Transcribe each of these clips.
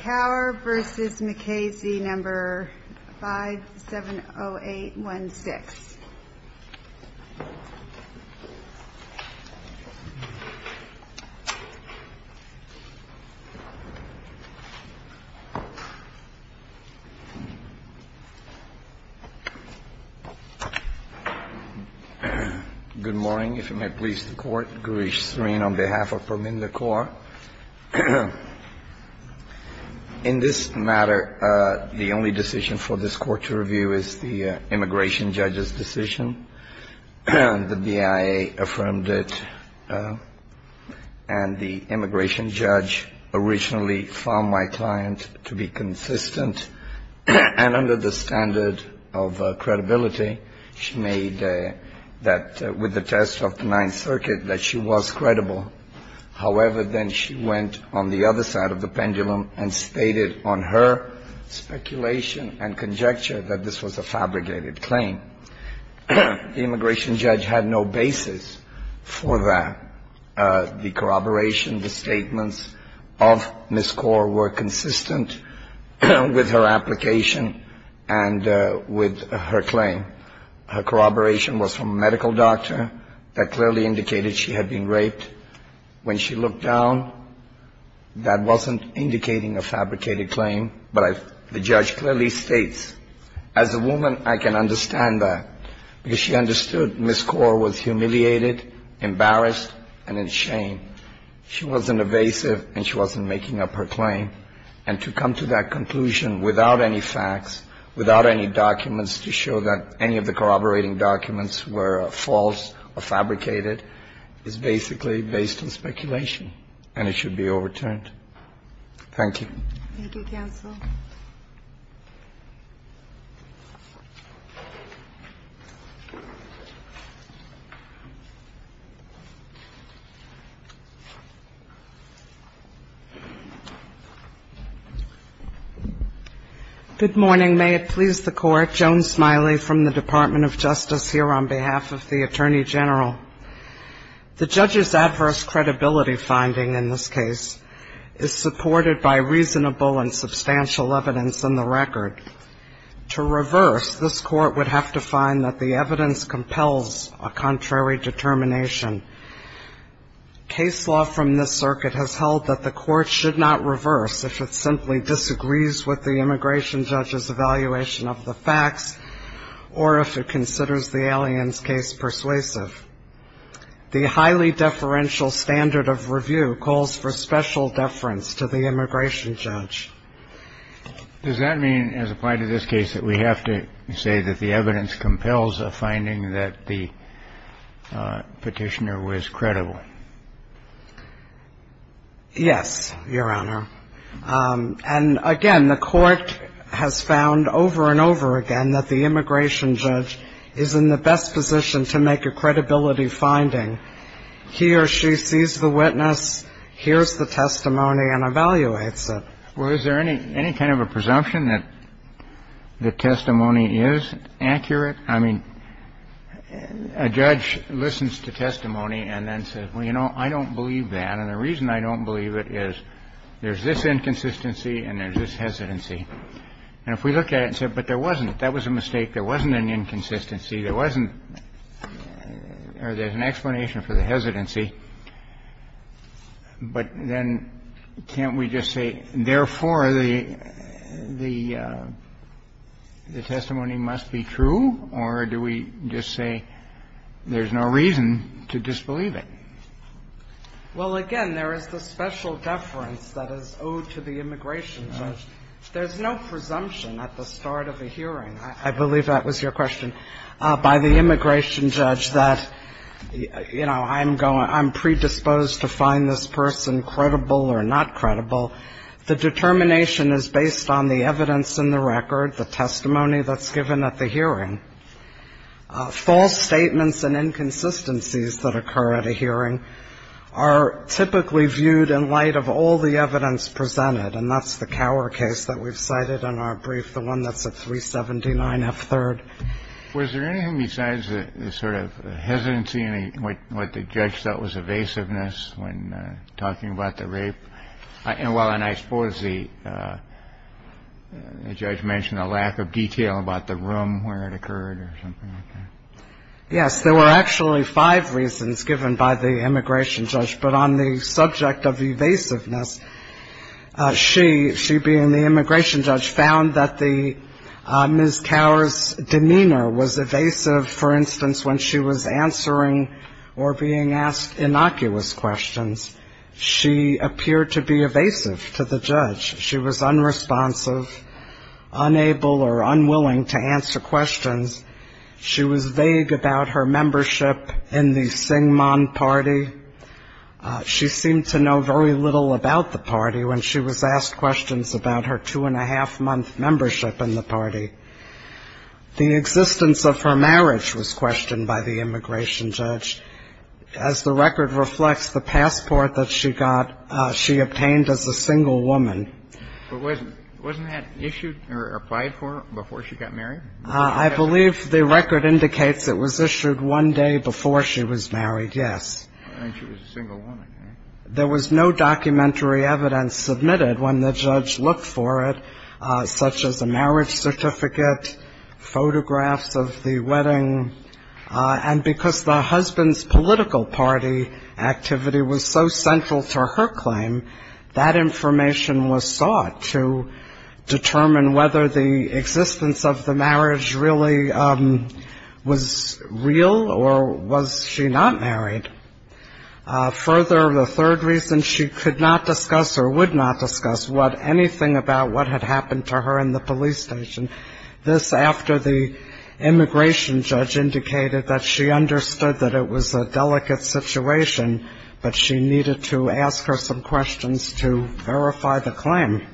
Kaur v. Mukasey, No. 570816. Good morning, if you may please the Court. Gurish Srin, on behalf of Pramila Kaur, in this matter, the only decision for this Court to review is the Immigration Judge's decision. The BIA affirmed it, and the Immigration Judge originally found my client to be consistent and under the standard of credibility. She made that with the test of the Ninth Circuit that she was credible. However, then she went on the other side of the pendulum and stated on her speculation and conjecture that this was a fabricated claim. The Immigration Judge had no basis for that. The corroboration, the statements of Ms. Kaur were consistent with her application and with her claim. Her corroboration was from a medical doctor that clearly indicated she had been raped. When she looked down, that wasn't indicating a fabricated claim, but the judge clearly states, as a woman, I can understand that, because she understood Ms. Kaur was humiliated, embarrassed, and in shame. She wasn't evasive, and she wasn't making up her claim. And to come to that conclusion without any facts, without any documents to show that any of the corroborating documents were false or fabricated is basically based on speculation, and it should be overturned. Thank you. Thank you, counsel. Good morning. May it please the Court, Joan Smiley from the Department of Justice here on behalf of the Attorney General. The judge's adverse credibility finding in this case is supported by reasonable and substantial evidence in the record. To reverse, this Court would have to find that the evidence compels a contrary determination. Case law from this circuit has held that the Court should not reverse if it simply disagrees with the Immigration Judge's evaluation of the facts or if it considers the Allianz case persuasive. The highly deferential standard of review calls for special deference to the Immigration Judge. Does that mean, as applied to this case, that we have to say that the evidence compels a finding that the Petitioner was credible? Yes, Your Honor. And again, the Court has found over and over again that the Immigration Judge's evaluation of the facts or if it considers the Allianz case persuasive is supported by reasonable and substantial evidence in the record. The Court would have to find that the evidence compels a finding that the Petitioner was credible. The Court would have to find that the Petitioner sees the witness, hears the testimony and evaluates it. But then can't we just say, therefore, the testimony must be true, or do we just say there's no reason to disbelieve it? Well, again, there is the special deference that is owed to the Immigration Judge. There's no presumption at the start of a hearing. I believe that was your question, by the Immigration Judge, that, you know, I'm going to be exposed to find this person credible or not credible. The determination is based on the evidence in the record, the testimony that's given at the hearing. False statements and inconsistencies that occur at a hearing are typically viewed in light of all the evidence presented, and that's the Cower case that we've cited in our brief, the one that's at 379 F. 3rd. Was there anything besides the sort of hesitancy and what the judge felt was evasiveness when talking about the rape? And while I suppose the judge mentioned a lack of detail about the room where it occurred or something like that. Yes. There were actually five reasons given by the Immigration Judge. But on the subject of evasiveness, she, she being the Immigration Judge, found that the, Ms. Cower's demeanor was evasive, for instance, when she was answering or being asked innocuous questions. She appeared to be evasive to the judge. She was unresponsive, unable or unwilling to answer questions. She was vague about her membership in the Syngman party. She seemed to know very little about the party when she was asked questions about her two memberships in the party. The existence of her marriage was questioned by the Immigration Judge. As the record reflects, the passport that she got, she obtained as a single woman. But wasn't, wasn't that issued or applied for before she got married? I believe the record indicates it was issued one day before she was married, yes. I think she was a single woman. There was no documentary evidence submitted when the judge looked for it, such as a marriage certificate, photographs of the wedding. And because the husband's political party activity was so central to her claim, that information was sought to determine whether the existence of the marriage really was real or was she not married. Further, the third reason she could not discuss or would not discuss what anything about what had happened to her in the police station, this after the Immigration Judge indicated that she understood that it was a delicate situation, but she needed to ask her some questions to verify the claim.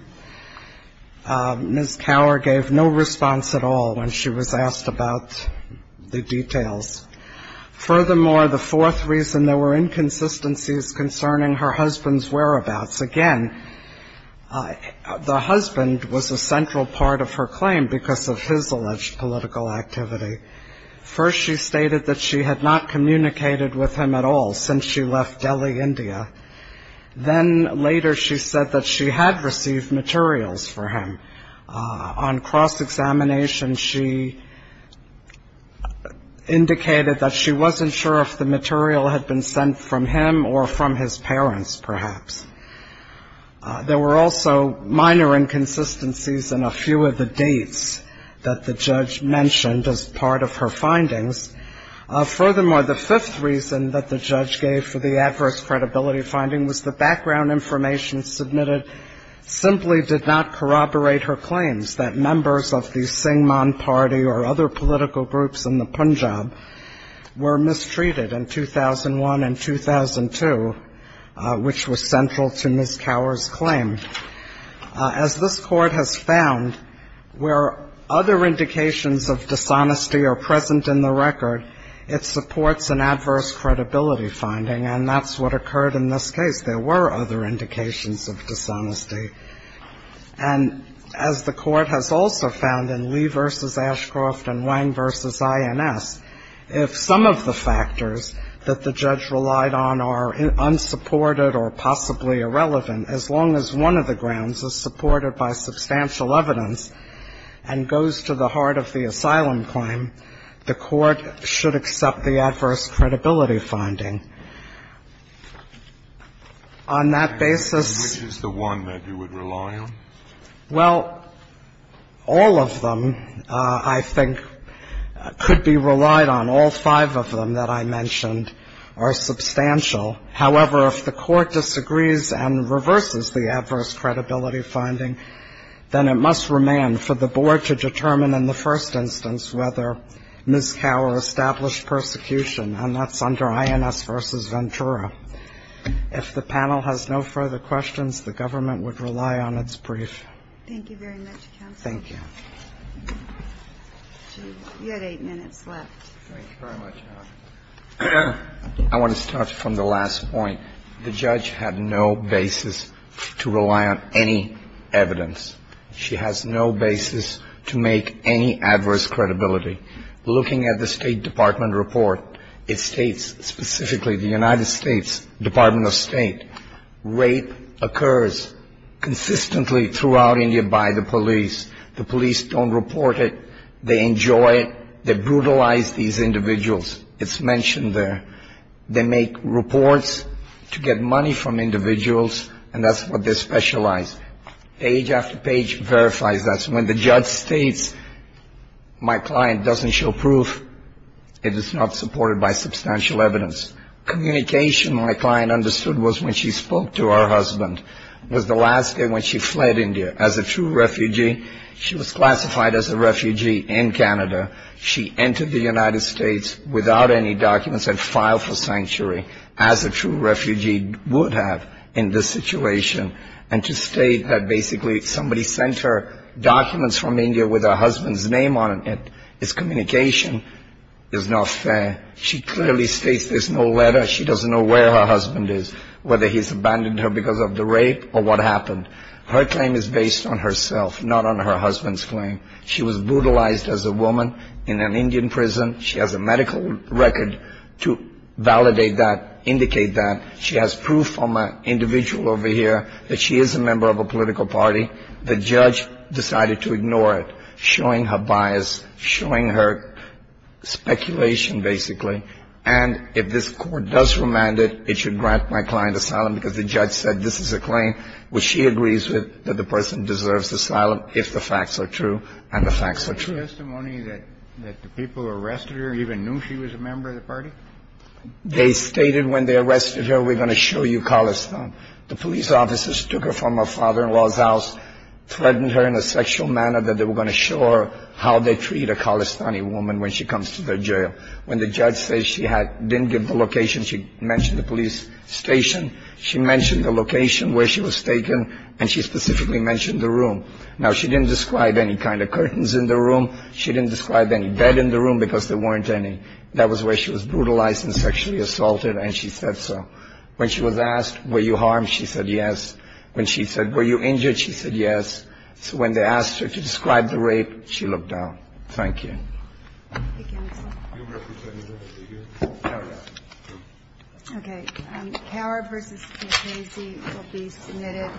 Ms. Cower gave no response at all when she was asked about the details. Furthermore, the fourth reason, there were inconsistencies concerning her husband's whereabouts. Again, the husband was a central part of her claim because of his alleged political activity. First, she stated that she had not communicated with him at all since she left Delhi, India. Then later, she said that she had received materials for him. On cross-examination, she indicated that she wasn't sure if the material had been sent from him or from his parents, perhaps. There were also minor inconsistencies in a few of the dates that the judge mentioned as part of her findings. Furthermore, the fifth reason that the judge gave for the adverse credibility finding was the background information submitted simply did not corroborate her claims that members of the Singman party or other political groups in the Punjab were mistreated in 2001 and 2002, which was central to Ms. Cower's claim. As this Court has found, where other indications of dishonesty are present in the record, it supports an adverse credibility finding, and that's what occurred in this case. There were other indications of dishonesty. And as the Court has also found in Lee v. Ashcroft and Wang v. INS, if some of the factors that the judge relied on are unsupported or possibly irrelevant, as long as one of the grounds is supported by substantial evidence and goes to the heart of the asylum claim, the Court should accept the adverse credibility finding. On that basis — And which is the one that you would rely on? Well, all of them, I think, could be relied on. All five of them that I mentioned are substantial. However, if the Court disagrees and reverses the adverse credibility finding, then it must remain for the Board to determine in the first instance whether Ms. Cower is responsible for established persecution, and that's under INS v. Ventura. If the panel has no further questions, the government would rely on its brief. Thank you very much, counsel. Thank you. You had eight minutes left. Thank you very much, Your Honor. I want to start from the last point. The judge had no basis to rely on any evidence. She has no basis to make any adverse credibility. Looking at the State Department report, it states specifically the United States Department of State, rape occurs consistently throughout India by the police. The police don't report it. They enjoy it. They brutalize these individuals. It's mentioned there. They make reports to get money from individuals, and that's what they specialize. Page after page verifies that. When the judge states my client doesn't show proof, it is not supported by substantial evidence. Communication my client understood was when she spoke to her husband was the last day when she fled India. As a true refugee, she was classified as a refugee in Canada. She entered the United States without any documents and filed for sanctuary, as a true refugee would have in this situation, and to state that basically somebody sent her documents from India with her husband's name on it is communication is not fair. She clearly states there's no letter. She doesn't know where her husband is, whether he's abandoned her because of the rape or what happened. Her claim is based on herself, not on her husband's claim. She was brutalized as a woman in an Indian prison. She has a medical record to validate that, indicate that. She has proof from an individual over here that she is a member of a political party. The judge decided to ignore it, showing her bias, showing her speculation, basically. And if this Court does remand it, it should grant my client asylum because the judge said this is a claim which she agrees with, that the person deserves asylum if the facts are true, and the facts are true. Kennedy. Is there testimony that the people who arrested her even knew she was a member of the party? They stated when they arrested her, we're going to show you Khalistan. The police officers took her from her father-in-law's house, threatened her in a sexual manner, that they were going to show her how they treat a Khalistani woman when she comes to their jail. When the judge said she didn't give the location, she mentioned the police station, she mentioned the location where she was taken, and she specifically mentioned the room. Now, she didn't describe any kind of curtains in the room. She didn't describe any bed in the room because there weren't any. That was where she was brutalized and sexually assaulted, and she said so. When she was asked, were you harmed, she said yes. When she said, were you injured, she said yes. So when they asked her to describe the rape, she looked down. Thank you. Thank you. Thank you, counsel. You'll represent me when I leave here. All right. Thank you. Okay. Kaur v. McCrazy will be submitted.